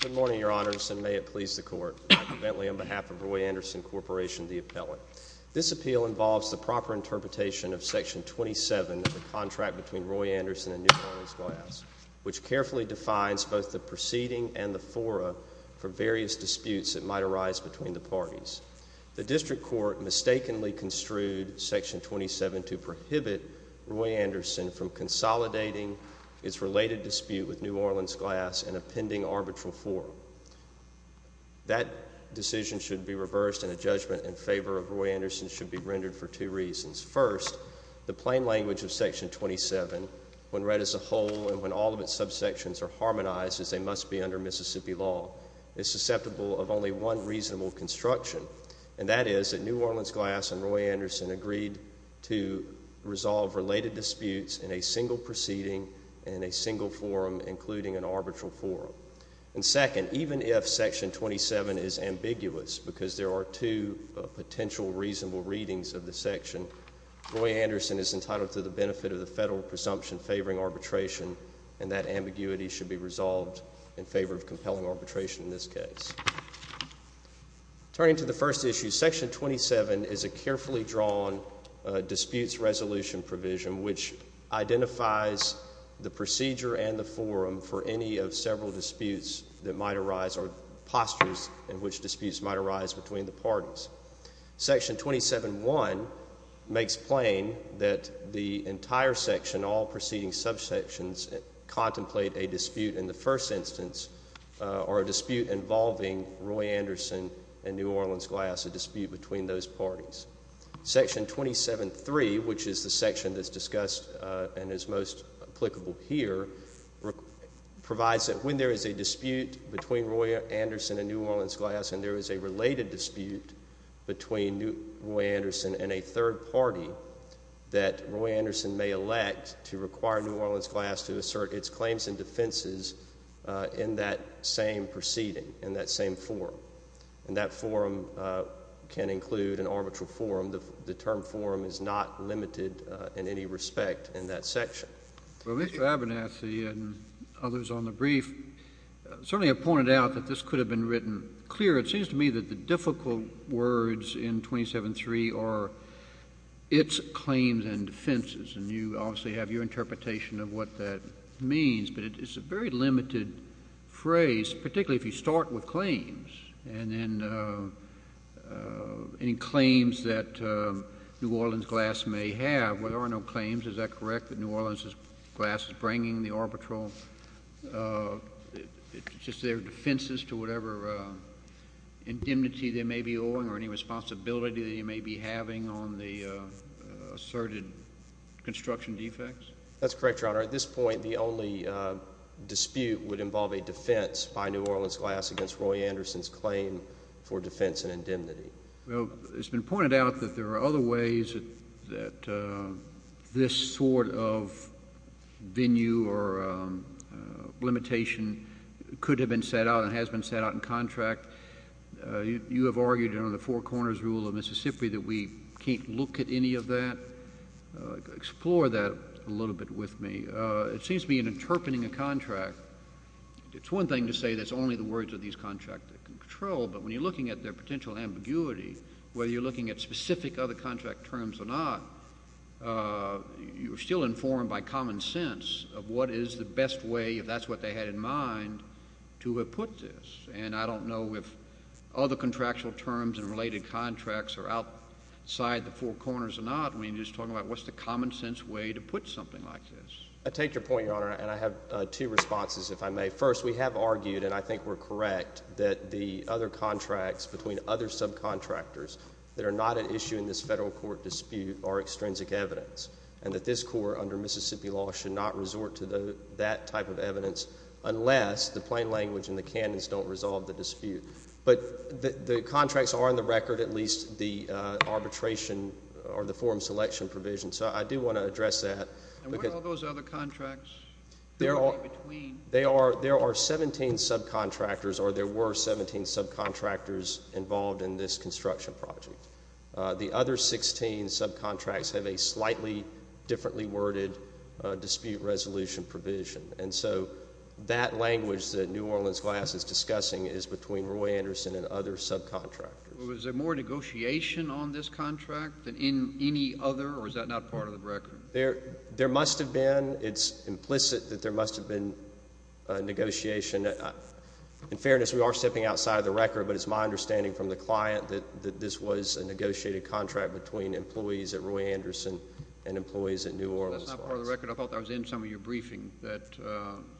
Good morning, Your Honors, and may it please the Court, I am Bentley on behalf of Roy Anderson Corporation, the appellant. This appeal involves the proper interpretation of Section 27 of the contract between Roy Anderson and New Orleans Glass, which carefully defines both the proceeding and the fora for various disputes that might arise between the parties. The District Court mistakenly construed Section 27 to prohibit Roy Anderson from consolidating its related dispute with New Orleans Glass in a pending arbitral forum. That decision should be reversed and a judgment in favor of Roy Anderson should be rendered for two reasons. First, the plain language of Section 27, when read as a whole and when all of its subsections are harmonized as they must be under Mississippi law, is susceptible of only one reasonable construction, and that is that New Orleans Glass and Roy Anderson agreed to resolve related disputes in a single proceeding and in a single forum, including an arbitral forum. And second, even if Section 27 is ambiguous, because there are two potential reasonable readings of the section, Roy Anderson is entitled to the benefit of the federal presumption favoring arbitration, and that ambiguity should be resolved in favor of compelling arbitration in this case. Turning to the first issue, Section 27 is a carefully drawn disputes resolution provision which identifies the procedure and the forum for any of several disputes that might arise or postures in which disputes might arise between the parties. Section 27.1 makes plain that the entire section, all proceeding subsections, contemplate a first instance or a dispute involving Roy Anderson and New Orleans Glass, a dispute between those parties. Section 27.3, which is the section that's discussed and is most applicable here, provides that when there is a dispute between Roy Anderson and New Orleans Glass and there is a related dispute between Roy Anderson and a third party, that Roy Anderson may elect to require New Orleans Glass to participate in that same proceeding, in that same forum, and that forum can include an arbitral forum. The term forum is not limited in any respect in that section. JUSTICE KENNEDY. Well, Mr. Abernathy and others on the brief certainly have pointed out that this could have been written clearer. It seems to me that the difficult words in 27.3 are its claims and defenses, and you obviously have your interpretation of what that means, but it's a very limited phrase, particularly if you start with claims and then any claims that New Orleans Glass may have. There are no claims. Is that correct, that New Orleans Glass is bringing the arbitral, just their defenses to whatever indemnity they may be owing or any responsibility they may be having on the asserted construction defects? ABERNATHY. That's correct, Your Honor. At this point, the only dispute would involve a defense by New Orleans Glass against Roy Anderson's claim for defense and indemnity. JUSTICE KENNEDY. Well, it's been pointed out that there are other ways that this sort of venue or limitation could have been set out and has been set out in contract. You have argued under the Four Corners rule of Mississippi that we can't look at any of that. Explore that a little bit with me. It seems to me in interpreting a contract, it's one thing to say that it's only the words of these contracts that can control, but when you're looking at their potential ambiguity, whether you're looking at specific other contract terms or not, you're still informed by common sense of what is the best way, if that's what they had in mind, to have put this. And I don't know if other contractual terms and related contracts are outside the Four Corners or not. I mean, you're just talking about what's the common sense way to put something like this. ABERNATHY. I take your point, Your Honor, and I have two responses, if I may. First, we have argued, and I think we're correct, that the other contracts between other subcontractors that are not at issue in this Federal court dispute are extrinsic evidence and that this court under Mississippi law should not resort to that type of evidence unless the plain language and the canons don't resolve the dispute. But the contracts are on the record, at least the arbitration or the forum selection provision, so I do want to address that. JUSTICE SCALIA. And what are all those other contracts that are in between? ABERNATHY. There are 17 subcontractors, or there were 17 subcontractors involved in this construction project. The other 16 subcontracts have a slightly differently worded dispute resolution provision. And so that language that New Orleans Glass is discussing is between Roy Anderson and JUSTICE SCALIA. Was there more negotiation on this contract than in any other, or is that not part of the record? ABERNATHY. There must have been. It's implicit that there must have been negotiation. In fairness, we are stepping outside of the record, but it's my understanding from the client that this was a negotiated contract between employees at Roy Anderson and employees at New Orleans Glass. JUSTICE SCALIA. That's not part of the record. I thought that was in some of your briefing, that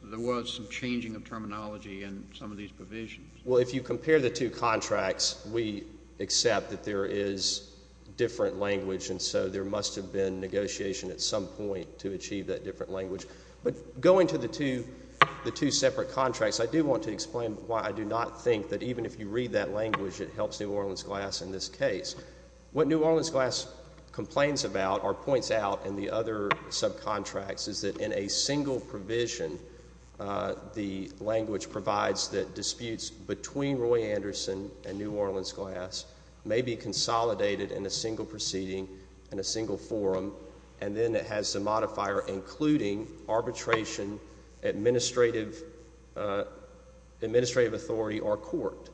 there was some changing of terminology in some of these provisions. ABERNATHY. Well, if you compare the two contracts, we accept that there is different language, and so there must have been negotiation at some point to achieve that different language. But going to the two separate contracts, I do want to explain why I do not think that even if you read that language, it helps New Orleans Glass in this case. What New Orleans Glass complains about or points out in the other subcontracts is that in a single provision, the language provides that disputes between Roy Anderson and New Orleans Glass may be consolidated in a single proceeding, in a single forum, and then it has the modifier including arbitration, administrative authority, or court.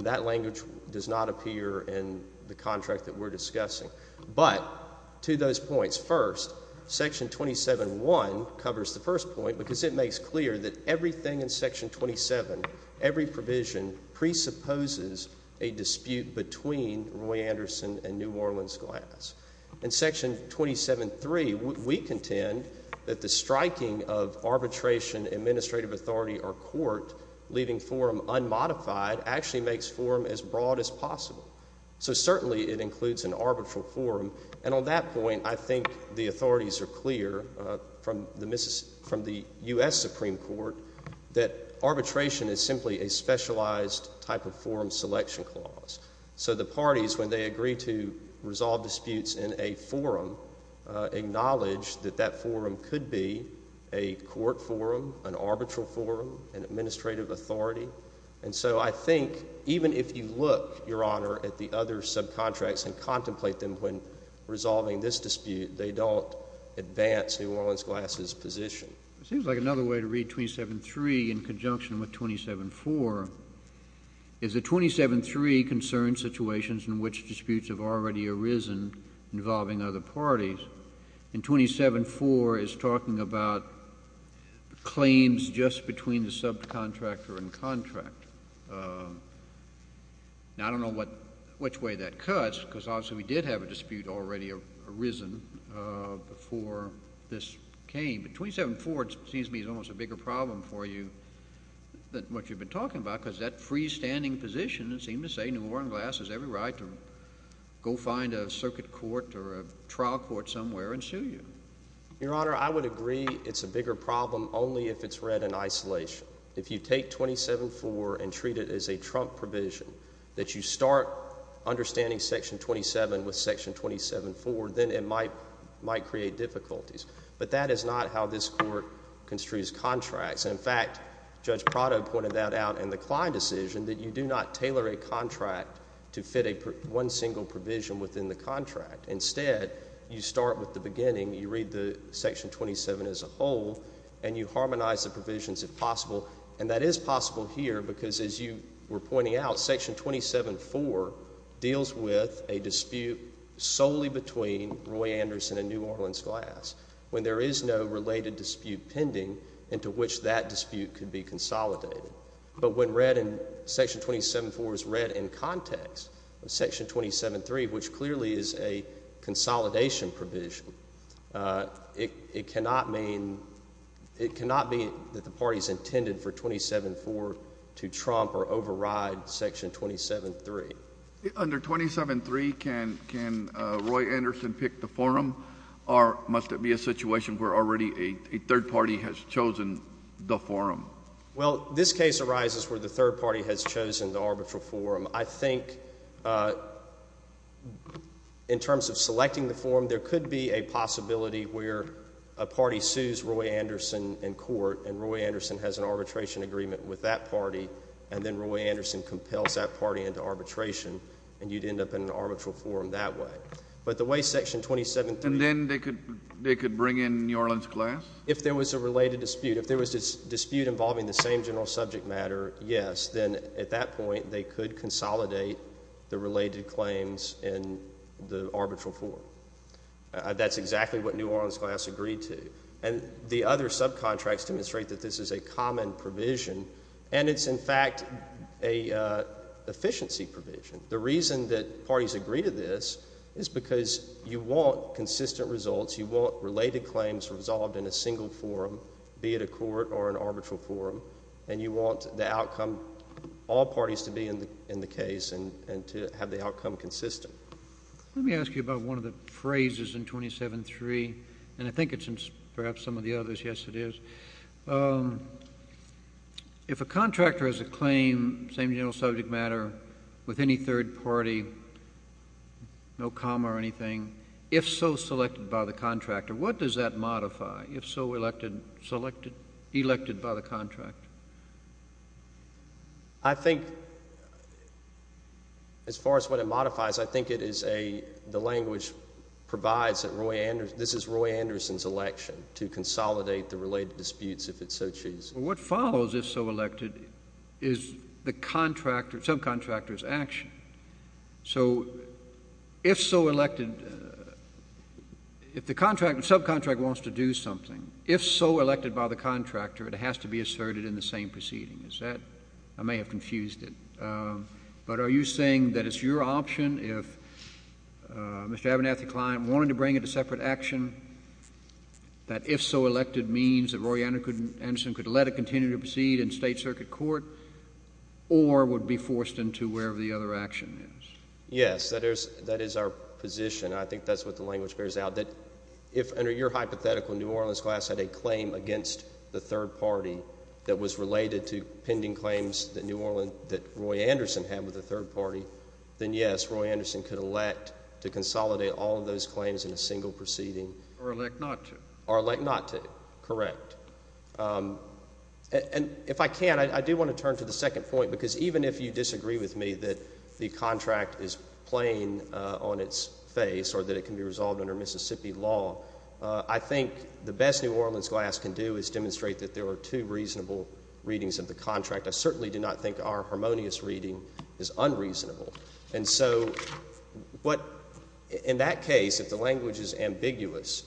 That language does not appear in the contract that we're discussing. But to those points, first, Section 27.1 covers the first point because it makes clear that everything in Section 27, every provision presupposes a dispute between Roy Anderson and New Orleans Glass. In Section 27.3, we contend that the striking of arbitration, administrative authority, or court, leaving forum unmodified, actually makes forum as broad as possible. So certainly, it includes an arbitral forum. And on that point, I think the authorities are clear from the U.S. Supreme Court that arbitration is simply a specialized type of forum selection clause. So the parties, when they agree to resolve disputes in a forum, acknowledge that that is a broad forum and administrative authority. And so I think even if you look, Your Honor, at the other subcontracts and contemplate them when resolving this dispute, they don't advance New Orleans Glass's position. It seems like another way to read 27.3 in conjunction with 27.4 is that 27.3 concerns situations in which disputes have already arisen involving other parties, and 27.4 is talking about claims just between the subcontractor and contractor. Now, I don't know which way that cuts, because obviously, we did have a dispute already arisen before this came, but 27.4, it seems to me, is almost a bigger problem for you than what you've been talking about, because that freestanding position, it seemed to say, New Orleans Glass has every right to go find a circuit court or a trial court somewhere and sue you. Your Honor, I would agree it's a bigger problem only if it's read in isolation. If you take 27.4 and treat it as a Trump provision, that you start understanding Section 27 with Section 27.4, then it might create difficulties. But that is not how this Court construes contracts. In fact, Judge Prado pointed that out in the Kline decision, that you do not tailor a contract to fit one single provision within the contract. Instead, you start with the beginning, you read the Section 27 as a whole, and you harmonize the provisions if possible. And that is possible here, because as you were pointing out, Section 27.4 deals with a dispute solely between Roy Anderson and New Orleans Glass, when there is no related dispute pending into which that dispute could be consolidated. But when Section 27.4 is read in context of Section 27.3, which clearly is a consolidation provision, it cannot be that the parties intended for 27.4 to trump or override Section 27.3. Under 27.3, can Roy Anderson pick the forum, or must it be a situation where already a third party has chosen the forum? Well, this case arises where the third party has chosen the arbitral forum. I think in terms of selecting the forum, there could be a possibility where a party sues Roy Anderson in court, and Roy Anderson has an arbitration agreement with that party, and then Roy Anderson compels that party into arbitration, and you would end up in an arbitral forum that way. But the way Section 27.3 — And then they could bring in New Orleans Glass? If there was a related dispute, if there was a dispute involving the same general subject matter, yes, then at that point, they could consolidate the related claims in the arbitral forum. That's exactly what New Orleans Glass agreed to. And the other subcontracts demonstrate that this is a common provision, and it's in fact an efficiency provision. The reason that parties agree to this is because you want consistent results, you want related claims resolved in a single forum, be it a court or an arbitral forum, and you want the outcome — all parties to be in the case and to have the outcome consistent. Let me ask you about one of the phrases in 27.3, and I think it's in perhaps some of the others. Yes, it is. If a contractor has a claim, same general subject matter, with any third party, no comma or anything, if so selected by the contractor, what does that modify? If so elected — selected — elected by the contractor? I think as far as what it modifies, I think it is a — the language provides that Roy Anderson — this is Roy Anderson's election to consolidate the related disputes, if it so chooses. Well, what follows if so elected is the contractor — subcontractor's action. So if so elected — if the contractor — subcontractor wants to do something, if so elected by the contractor, it has to be asserted in the same proceeding. Is that — I may have confused it. But are you saying that it's your option if Mr. Abernathy Klein wanted to bring it to separate action, that if so elected means that Roy Anderson could let it continue to Yes, that is — that is our position. I think that's what the language bears out, that if under your hypothetical New Orleans class had a claim against the third party that was related to pending claims that New Orleans — that Roy Anderson had with the third party, then yes, Roy Anderson could elect to consolidate all of those claims in a single proceeding. Or elect not to. Or elect not to, correct. And if I can, I do want to turn to the second point, because even if you disagree with me that the contract is plain on its face or that it can be resolved under Mississippi law, I think the best New Orleans class can do is demonstrate that there were two reasonable readings of the contract. I certainly do not think our harmonious reading is unreasonable. And so what — in that case, if the language is ambiguous,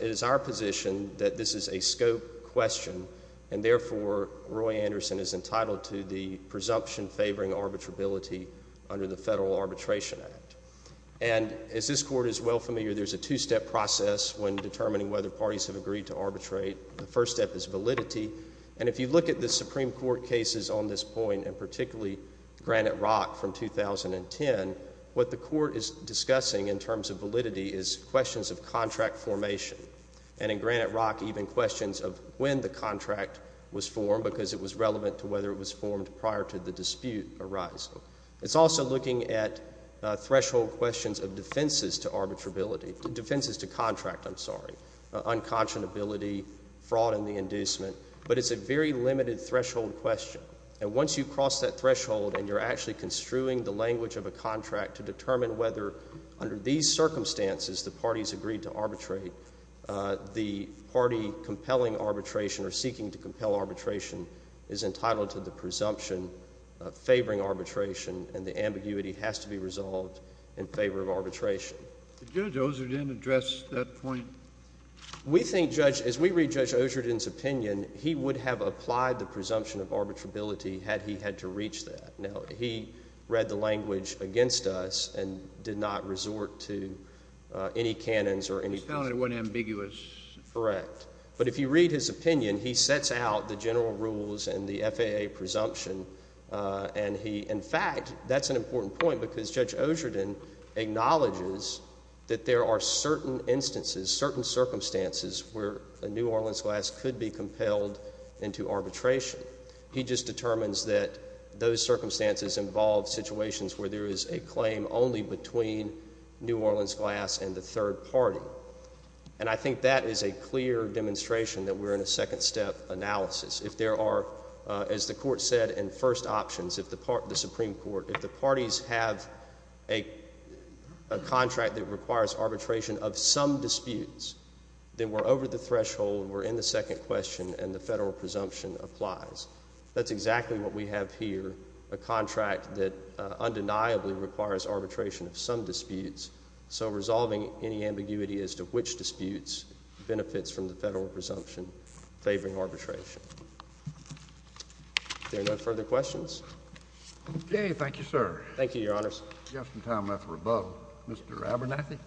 it is our position that this is a scope question, and therefore Roy Anderson is entitled to the presumption favoring arbitrability under the Federal Arbitration Act. And as this Court is well familiar, there's a two-step process when determining whether parties have agreed to arbitrate. The first step is validity. And if you look at the Supreme Court cases on this point, and particularly Granite Rock from 2010, what the Court is discussing in terms of validity is questions of contract formation. And in Granite Rock, even questions of when the contract was formed, because it was relevant to whether it was formed prior to the dispute arising. It's also looking at threshold questions of defenses to arbitrability — defenses to contract, I'm sorry — unconscionability, fraud in the inducement. But it's a very limited threshold question. And once you cross that threshold and you're actually construing the language of a contract to determine whether, under these circumstances, the parties agreed to arbitrate, the party with compelling arbitration or seeking to compel arbitration is entitled to the presumption of favoring arbitration, and the ambiguity has to be resolved in favor of arbitration. Did Judge Osherden address that point? We think, Judge — as we read Judge Osherden's opinion, he would have applied the presumption of arbitrability had he had to reach that. Now, he read the language against us and did not resort to any canons or any — He found it wasn't ambiguous. Correct. But if you read his opinion, he sets out the general rules and the FAA presumption, and he — in fact, that's an important point, because Judge Osherden acknowledges that there are certain instances, certain circumstances, where a New Orleans class could be compelled into arbitration. He just determines that those circumstances involve situations where there is a claim only between New Orleans class and the third party. And I think that is a clear demonstration that we're in a second-step analysis. If there are — as the Court said in first options, if the Supreme Court — if the parties have a contract that requires arbitration of some disputes, then we're over the threshold, we're in the second question, and the federal presumption applies. That's exactly what we have here, a contract that undeniably requires arbitration of some disputes. The question is to which disputes benefits from the federal presumption favoring arbitration. If there are no further questions — Okay. Thank you, sir. Thank you, Your Honors. We have some time left for above. Mr. Abernathy?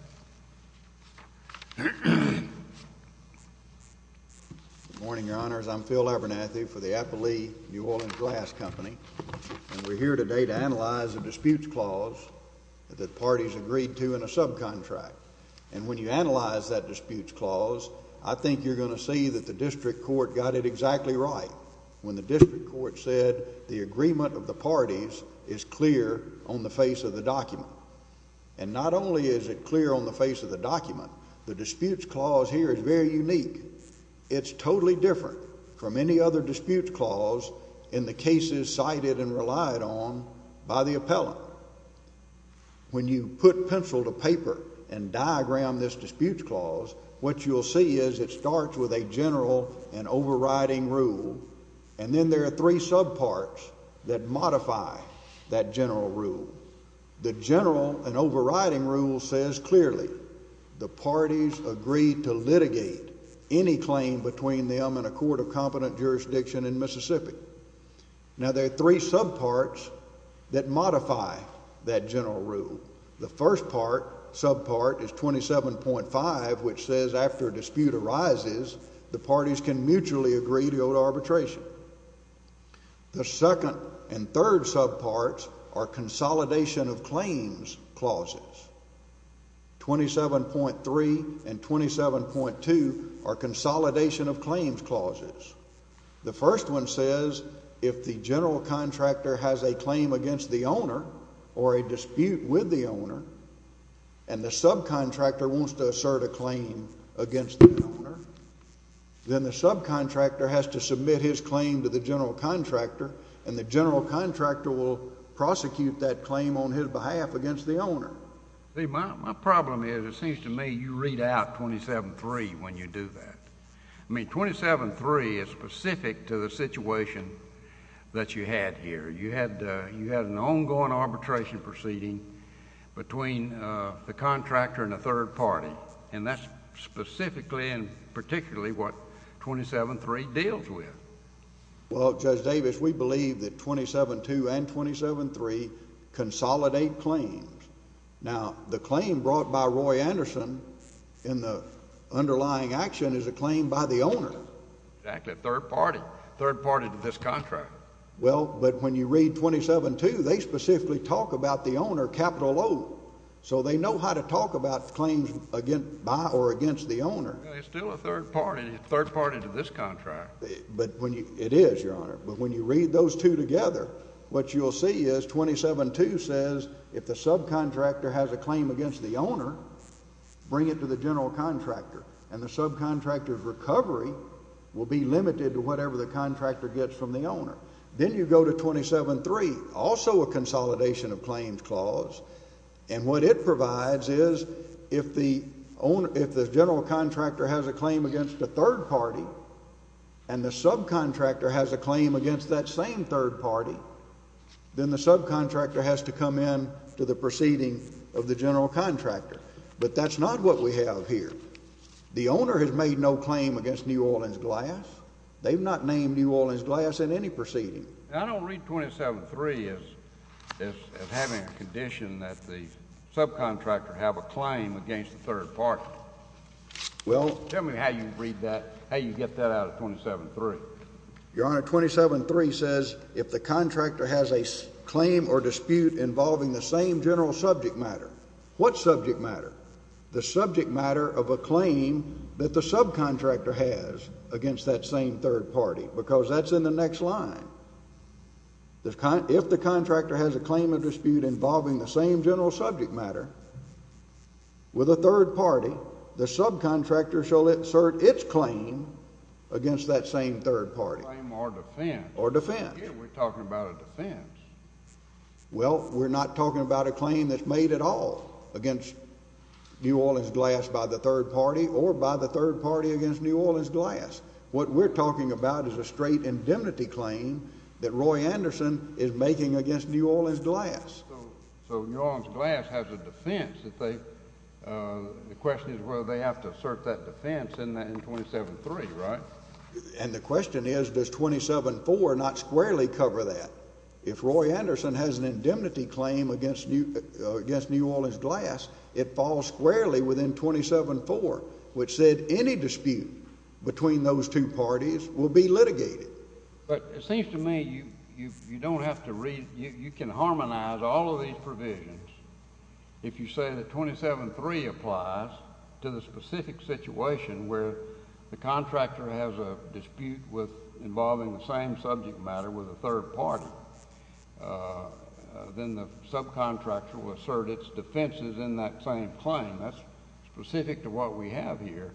Good morning, Your Honors. I'm Phil Abernathy for the Appley New Orleans Glass Company, and we're here today to analyze a disputes clause that the parties agreed to in a subcontract. And when you analyze that disputes clause, I think you're going to see that the district court got it exactly right when the district court said the agreement of the parties is clear on the face of the document. And not only is it clear on the face of the document, the disputes clause here is very unique. It's totally different from any other disputes clause in the cases cited and relied on by the appellant. When you put pencil to paper and diagram this disputes clause, what you'll see is it starts with a general and overriding rule, and then there are three subparts that modify that general rule. The general and overriding rule says clearly the parties agreed to litigate any claim between them and a court of competent jurisdiction in Mississippi. Now, there are three subparts that modify that general rule. The first part, subpart, is 27.5, which says after a dispute arises, the parties can mutually agree to owe arbitration. The second and third subparts are consolidation of claims clauses, 27.3 and 27.2 are consolidation of claims clauses. The first one says if the general contractor has a claim against the owner or a dispute with the owner, and the subcontractor wants to assert a claim against the owner, then the subcontractor has to submit his claim to the general contractor, and the general contractor will prosecute that claim on his behalf against the owner. See, my problem is it seems to me you read out 27.3 when you do that. I mean, 27.3 is specific to the situation that you had here. You had an ongoing arbitration proceeding between the contractor and a third party, and that's specifically and particularly what 27.3 deals with. Well, Judge Davis, we believe that 27.2 and 27.3 consolidate claims. Now, the claim brought by Roy Anderson in the underlying action is a claim by the owner. Exactly. A third party. A third party to this contract. Well, but when you read 27.2, they specifically talk about the owner, capital O, so they know how to talk about claims by or against the owner. Well, it's still a third party, a third party to this contract. But when you read those two together, what you'll see is 27.2 says if the subcontractor has a claim against the owner, bring it to the general contractor, and the subcontractor's recovery will be limited to whatever the contractor gets from the owner. Then you go to 27.3, also a consolidation of claims clause, and what it provides is if the general contractor has a claim against a third party and the subcontractor has a general contractor. But that's not what we have here. The owner has made no claim against New Orleans Glass. They've not named New Orleans Glass in any proceeding. I don't read 27.3 as having a condition that the subcontractor have a claim against a third party. Tell me how you read that, how you get that out of 27.3. Your Honor, 27.3 says if the contractor has a claim or dispute involving the same general subject matter. What subject matter? The subject matter of a claim that the subcontractor has against that same third party, because that's in the next line. If the contractor has a claim or dispute involving the same general subject matter with a third party, the subcontractor shall assert its claim against that same third party. Claim or defense. Or defense. Yeah, we're talking about a defense. Well, we're not talking about a claim that's made at all against New Orleans Glass by the third party or by the third party against New Orleans Glass. What we're talking about is a straight indemnity claim that Roy Anderson is making against New Orleans Glass. So New Orleans Glass has a defense that they, the question is whether they have to assert that defense in 27.3, right? And the question is, does 27.4 not squarely cover that? If Roy Anderson has an indemnity claim against New Orleans Glass, it falls squarely within 27.4, which said any dispute between those two parties will be litigated. But it seems to me you don't have to read, you can harmonize all of these provisions if you say that 27.3 applies to the specific situation where the contractor has a dispute with involving the same subject matter with a third party, then the subcontractor will assert its defenses in that same claim. That's specific to what we have here.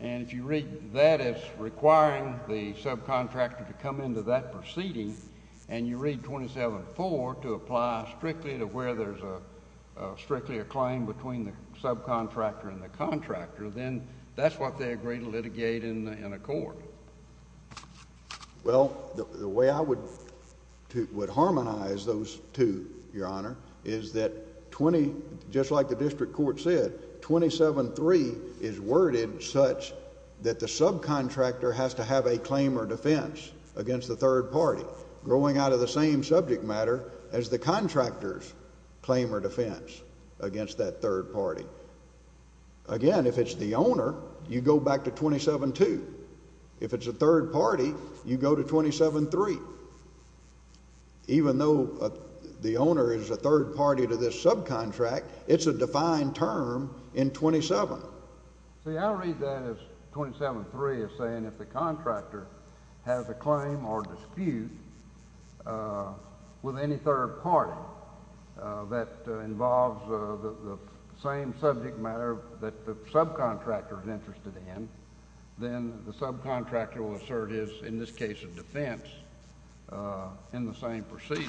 And if you read that as requiring the subcontractor to come into that proceeding, and you read 27.4 to apply strictly to where there's a, strictly a claim between the subcontractor and the contractor, then that's what they agree to litigate in accord. Well, the way I would harmonize those two, Your Honor, is that 20, just like the district court said, 27.3 is worded such that the subcontractor has to have a claim or defense against the third party, growing out of the same subject matter as the contractor's claim or defense against that third party. Again, if it's the owner, you go back to 27.2. If it's a third party, you go to 27.3. Even though the owner is a third party to this subcontract, it's a defined term in 27. See, I read that as, 27.3 is saying if the contractor has a claim or dispute with any third party that involves the same subject matter that the subcontractor is interested in, then the subcontractor will assert his, in this case, a defense in the same proceeding.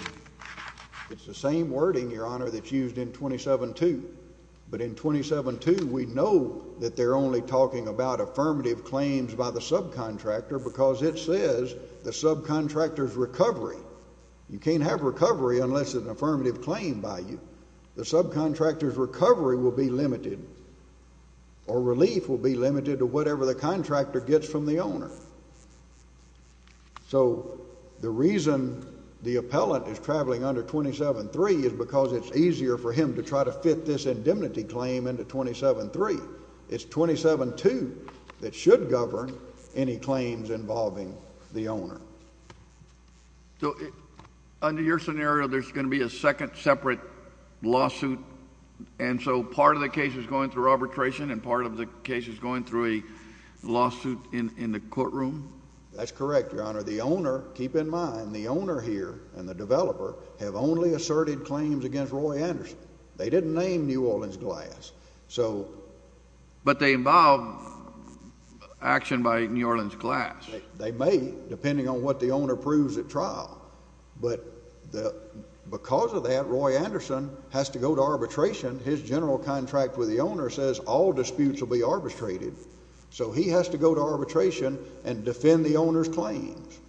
It's the same wording, Your Honor, that's used in 27.2. But in 27.2, we know that they're only talking about affirmative claims by the subcontractor because it says the subcontractor's recovery. You can't have recovery unless it's an affirmative claim by you. The subcontractor's recovery will be limited or relief will be limited to whatever the contractor gets from the owner. So the reason the appellant is traveling under 27.3 is because it's easier for him to try to fit this indemnity claim into 27.3. It's 27.2 that should govern any claims involving the owner. So, under your scenario, there's going to be a second separate lawsuit, and so part of the case is going through arbitration and part of the case is going through a lawsuit in the courtroom? That's correct, Your Honor. The owner, keep in mind, the owner here and the developer have only asserted claims against Roy Anderson. They didn't name New Orleans Glass. But they involve action by New Orleans Glass. They may, depending on what the owner proves at trial. But because of that, Roy Anderson has to go to arbitration. His general contract with the owner says all disputes will be arbitrated. So he has to go to arbitration and defend the owner's claims.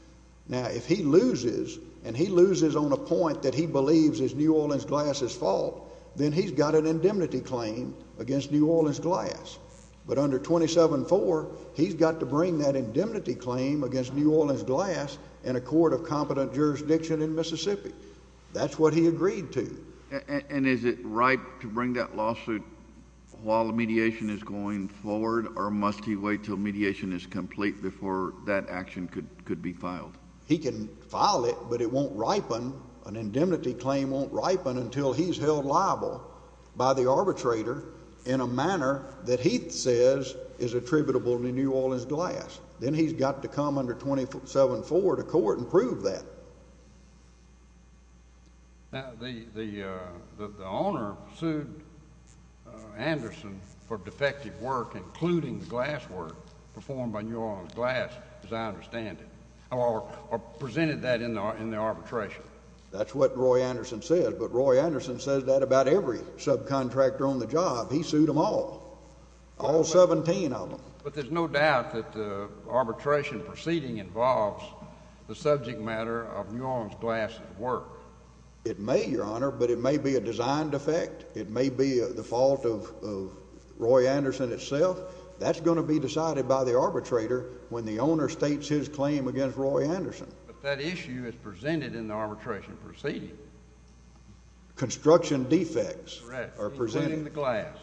Now if he loses and he loses on a point that he believes is New Orleans Glass's fault, then he's got an indemnity claim against New Orleans Glass. But under 27.4, he's got to bring that indemnity claim against New Orleans Glass in a court of competent jurisdiction in Mississippi. That's what he agreed to. And is it ripe to bring that lawsuit while mediation is going forward, or must he wait till mediation is complete before that action could be filed? He can file it, but it won't ripen, an indemnity claim won't ripen until he's held liable by the arbitrator in a manner that he says is attributable to New Orleans Glass. Then he's got to come under 27.4 to court and prove that. The owner sued Anderson for defective work, including the glass work performed by New Orleans Glass, as I understand it, or presented that in the arbitration. That's what Roy Anderson said, but Roy Anderson says that about every subcontractor on the job. He sued them all, all 17 of them. But there's no doubt that the arbitration proceeding involves the subject matter of New Orleans Glass's work. It may, Your Honor, but it may be a design defect, it may be the fault of Roy Anderson itself. That's going to be decided by the arbitrator when the owner states his claim against Roy Anderson. But that issue is presented in the arbitration proceeding. Construction defects are presented. Right, including the glass.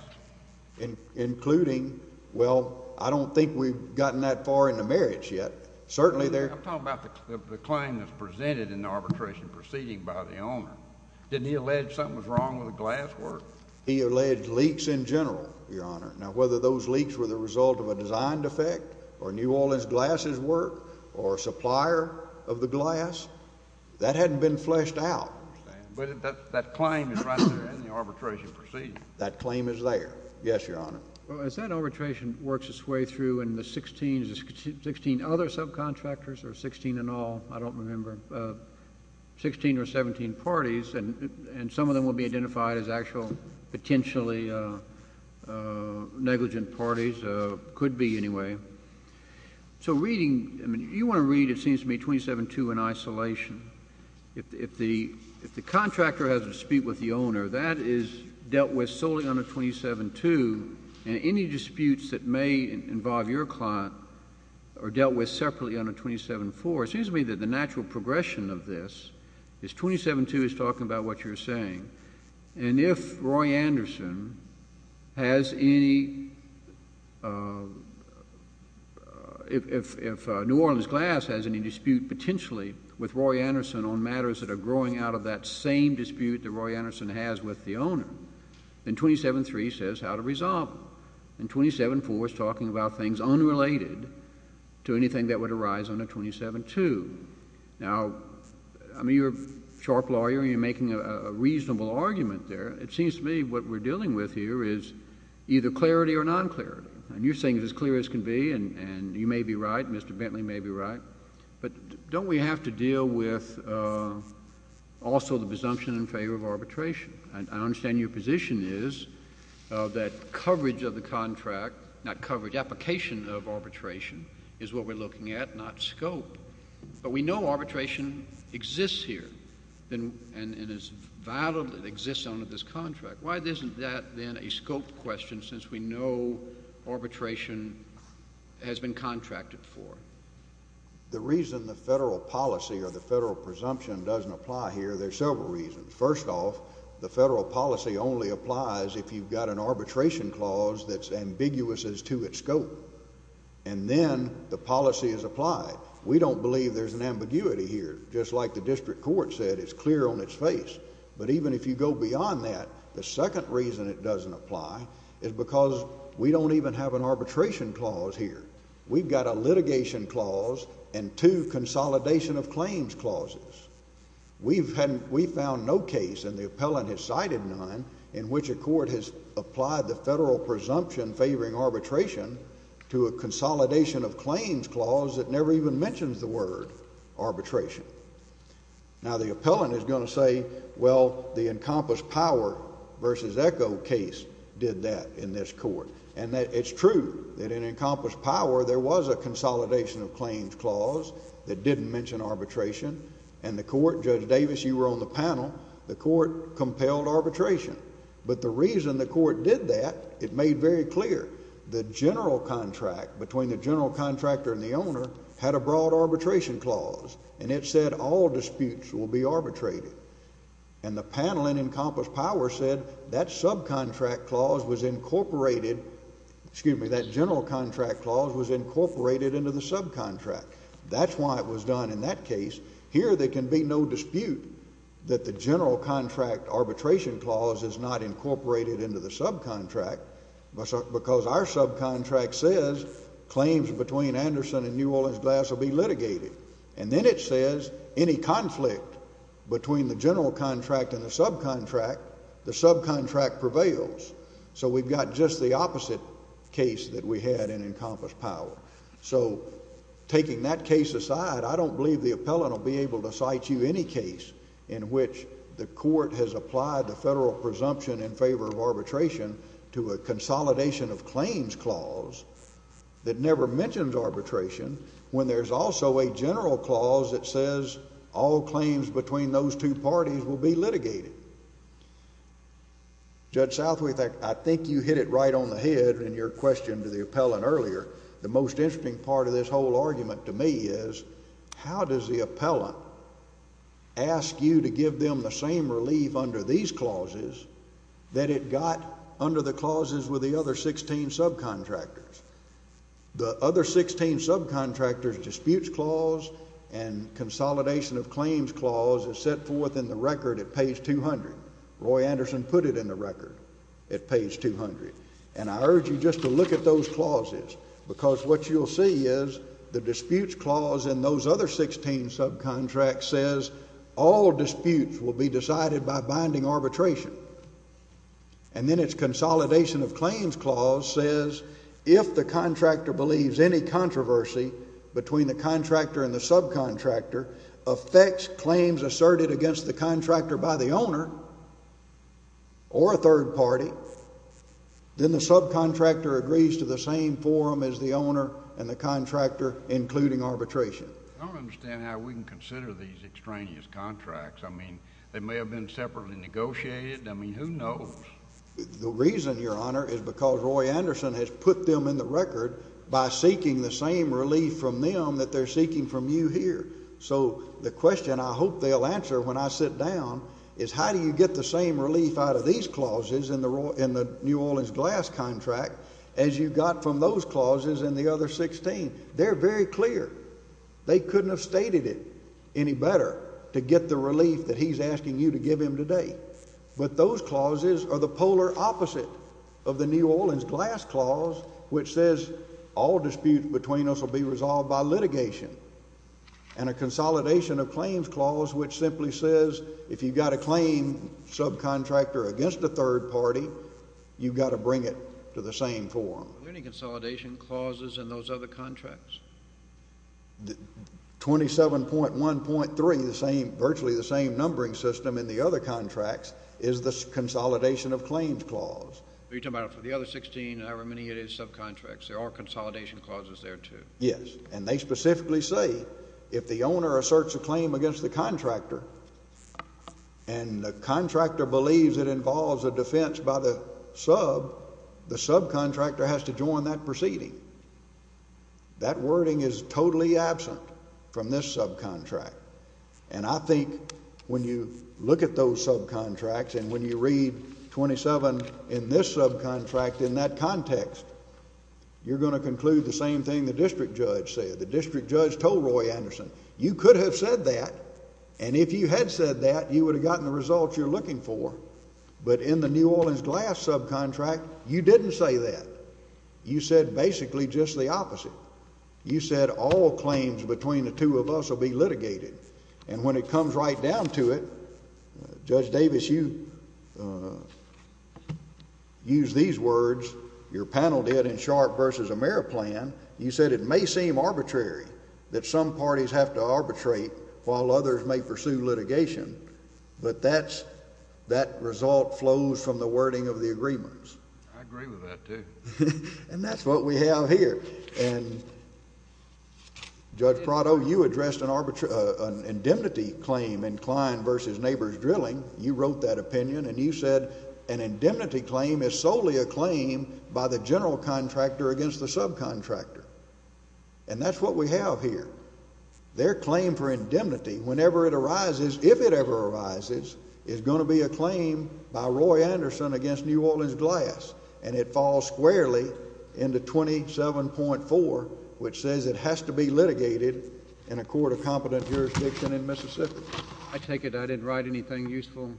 Including, well, I don't think we've gotten that far into marriage yet. Certainly there— I'm talking about the claim that's presented in the arbitration proceeding by the owner. Didn't he allege something was wrong with the glass work? He alleged leaks in general, Your Honor. Now, whether those leaks were the result of a design defect or New Orleans Glass's work or supplier of the glass, that hadn't been fleshed out. I understand. But that claim is right there in the arbitration proceeding. That claim is there. Yes, Your Honor. Well, as that arbitration works its way through and the 16—is it 16 other subcontractors or 16 in all? I don't remember. Sixteen or 17 parties, and some of them will be identified as actual potentially negligent parties, could be anyway. So reading—I mean, you want to read, it seems to me, 27-2 in isolation. If the contractor has a dispute with the owner, that is dealt with solely under 27-2, and any disputes that may involve your client are dealt with separately under 27-4. It seems to me that the natural progression of this is 27-2 is talking about what you're saying. And if Roy Anderson has any—if New Orleans Glass has any dispute potentially with Roy Anderson on matters that are growing out of that same dispute that Roy Anderson has with the owner, then 27-3 says how to resolve them. And 27-4 is talking about things unrelated to anything that would arise under 27-2. Now, I mean, you're a sharp lawyer, and you're making a reasonable argument there. It seems to me what we're dealing with here is either clarity or non-clarity. And you're saying it's as clear as can be, and you may be right, Mr. Bentley may be right, but don't we have to deal with also the presumption in favor of arbitration? And I understand your position is that coverage of the contract—not coverage, application of arbitration is what we're looking at, not scope. But we know arbitration exists here, and it is valid, it exists under this contract. Why isn't that then a scope question since we know arbitration has been contracted for? The reason the federal policy or the federal presumption doesn't apply here, there are several reasons. First off, the federal policy only applies if you've got an arbitration clause that's ambiguous as to its scope, and then the policy is applied. We don't believe there's an ambiguity here. Just like the district court said, it's clear on its face. But even if you go beyond that, the second reason it doesn't apply is because we don't even have an arbitration clause here. We've got a litigation clause and two consolidation of claims clauses. We found no case, and the appellant has cited none, in which a court has applied the federal presumption favoring arbitration to a consolidation of claims clause that never even mentions the word arbitration. Now the appellant is going to say, well, the Encompass Power v. Echo case did that in this court, and it's true that in Encompass Power there was a consolidation of claims clause that didn't mention arbitration, and the court—Judge Davis, you were on the panel—the court compelled arbitration. But the reason the court did that, it made very clear, the general contract between the general contractor and the owner had a broad arbitration clause, and it said all disputes will be arbitrated. And the panel in Encompass Power said that subcontract clause was incorporated—excuse me, that general contract clause was incorporated into the subcontract. That's why it was done in that case. Here there can be no dispute that the general contract arbitration clause is not incorporated into the subcontract, because our subcontract says claims between Anderson and New Orleans Glass will be litigated. And then it says any conflict between the general contract and the subcontract, the subcontract prevails. So we've got just the opposite case that we had in Encompass Power. So taking that case aside, I don't believe the appellant will be able to cite you any case in which the court has applied the federal presumption in favor of arbitration to a consolidation of claims clause that never mentions arbitration, when there's also a general clause that says all claims between those two parties will be litigated. Judge Southweth, I think you hit it right on the head in your question to the appellant earlier. The most interesting part of this whole argument to me is, how does the appellant ask you to give them the same relief under these clauses that it got under the clauses with the other 16 subcontractors? The other 16 subcontractors' disputes clause and consolidation of claims clause is set forth in the record at page 200. Roy Anderson put it in the record at page 200. And I urge you just to look at those clauses, because what you'll see is the disputes clause in those other 16 subcontracts says all disputes will be decided by binding arbitration. And then its consolidation of claims clause says if the contractor believes any controversy between the contractor and the subcontractor affects claims asserted against the contractor by the owner or a third party, then the subcontractor agrees to the same forum as the owner and the contractor, including arbitration. I don't understand how we can consider these extraneous contracts. I mean, they may have been separately negotiated. I mean, who knows? The reason, Your Honor, is because Roy Anderson has put them in the record by seeking the same relief from them that they're seeking from you here. So the question I hope they'll answer when I sit down is how do you get the same relief out of these clauses in the New Orleans Glass contract as you got from those clauses in the other 16? They're very clear. They couldn't have stated it any better to get the relief that he's asking you to give him today. But those clauses are the polar opposite of the New Orleans Glass clause, which says all disputes between us will be resolved by litigation. And a consolidation of claims clause, which simply says if you've got a claim subcontractor against a third party, you've got to bring it to the same forum. Are there any consolidation clauses in those other contracts? 27.1.3, virtually the same numbering system in the other contracts, is the consolidation of claims clause. You're talking about for the other 16, however many it is, subcontracts, there are consolidation clauses there, too. Yes. And they specifically say if the owner asserts a claim against the contractor and the contractor believes it involves a defense by the sub, the subcontractor has to join that proceeding. That wording is totally absent from this subcontract. And I think when you look at those subcontracts and when you read 27 in this subcontract in that context, you're going to conclude the same thing the district judge said. The district judge told Roy Anderson, you could have said that, and if you had said that, you would have gotten the result you're looking for. But in the New Orleans Glass subcontract, you didn't say that. You said basically just the opposite. You said all claims between the two of us will be litigated. And when it comes right down to it, Judge Davis, you used these words, your panel did in Sharp v. AmeriPlan, you said it may seem arbitrary that some parties have to arbitrate while others may pursue litigation, but that result flows from the wording of the agreements. I agree with that, too. And that's what we have here. And Judge Prado, you addressed an indemnity claim in Klein v. Neighbors Drilling. You wrote that opinion, and you said an indemnity claim is solely a claim by the general contractor against the subcontractor. And that's what we have here. Their claim for indemnity, whenever it arises, if it ever arises, is going to be a claim by Roy Anderson against New Orleans Glass. And it falls squarely into 27.4, which says it has to be litigated in a court of competent jurisdiction in Mississippi. I take it I didn't write anything useful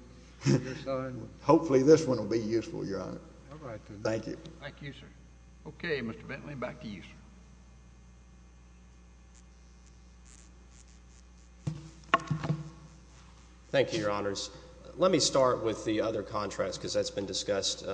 on your side? Hopefully this one will be useful, Your Honor. Thank you. Thank you, sir. Okay, Mr. Bentley, back to you, sir. Thank you, Your Honors. Let me start with the other contracts, because that's been discussed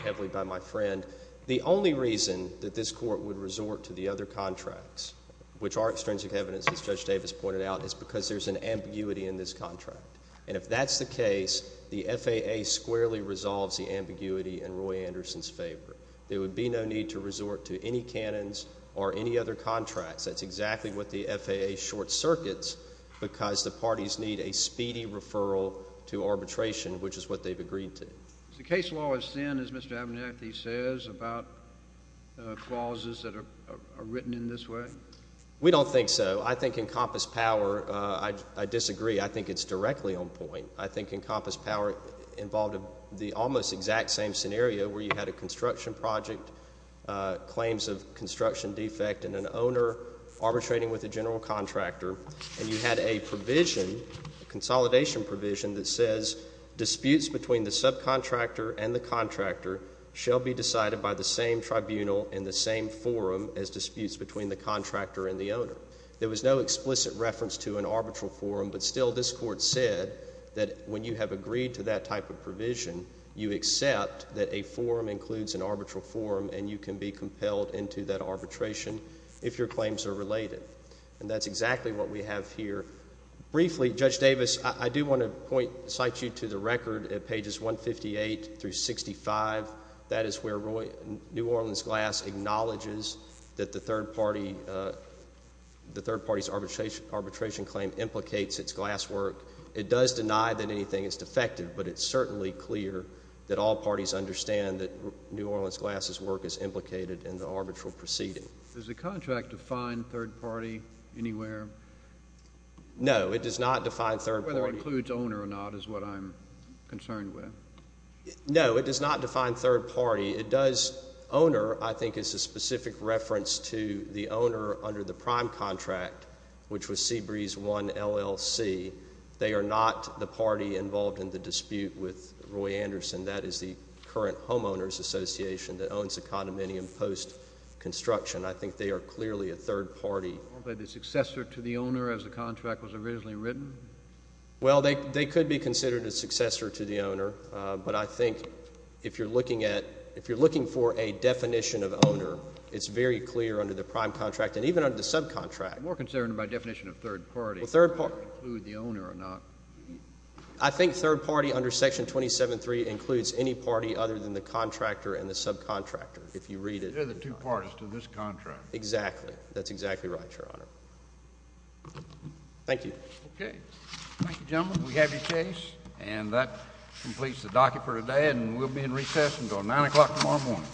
heavily by my friend. The only reason that this court would resort to the other contracts, which are extrinsic evidence, as Judge Davis pointed out, is because there's an ambiguity in this contract. And if that's the case, the FAA squarely resolves the ambiguity in Roy Anderson's favor. There would be no need to resort to any canons or any other contracts. That's exactly what the FAA short circuits, because the parties need a speedy referral to arbitration, which is what they've agreed to. Is the case law as thin, as Mr. Abernathy says, about clauses that are written in this way? We don't think so. I think Encompass Power, I disagree. I think it's directly on point. I think Encompass Power involved the almost exact same scenario where you had a construction project, claims of construction defect, and an owner arbitrating with a general contractor. And you had a provision, a consolidation provision, that says disputes between the subcontractor and the contractor shall be decided by the same tribunal in the same forum as disputes between the contractor and the owner. There was no explicit reference to an arbitral forum, but still this court said that when you have agreed to that type of provision, you accept that a forum includes an arbitral forum, and you can be compelled into that arbitration if your claims are related. And that's exactly what we have here. Briefly, Judge Davis, I do want to point, cite you to the record at pages 158 through 65. That is where New Orleans Glass acknowledges that the third party's arbitration claim implicates its glasswork. It does deny that anything is defective, but it's certainly clear that all parties understand that New Orleans Glass's work is implicated in the arbitral proceeding. Does the contract define third party anywhere? No, it does not define third party. Whether it includes owner or not is what I'm concerned with. No, it does not define third party. It does, owner, I think is a specific reference to the owner under the prime contract, which was Seabreeze I, LLC. They are not the party involved in the dispute with Roy Anderson. That is the current homeowners association that owns the condominium post-construction. I think they are clearly a third party. Aren't they the successor to the owner as the contract was originally written? Well, they could be considered a successor to the owner, but I think if you're looking for a definition of owner, it's very clear under the prime contract, and even under the subcontract. I'm more concerned by definition of third party, whether it includes the owner or not. I think third party under section 27.3 includes any party other than the contractor and the subcontractor, if you read it. They're the two parties to this contract. Exactly. That's exactly right, Your Honor. Thank you. Okay. Thank you, gentlemen. We have your case, and that completes the docket for today, and we'll be in recess until 9 o'clock tomorrow morning.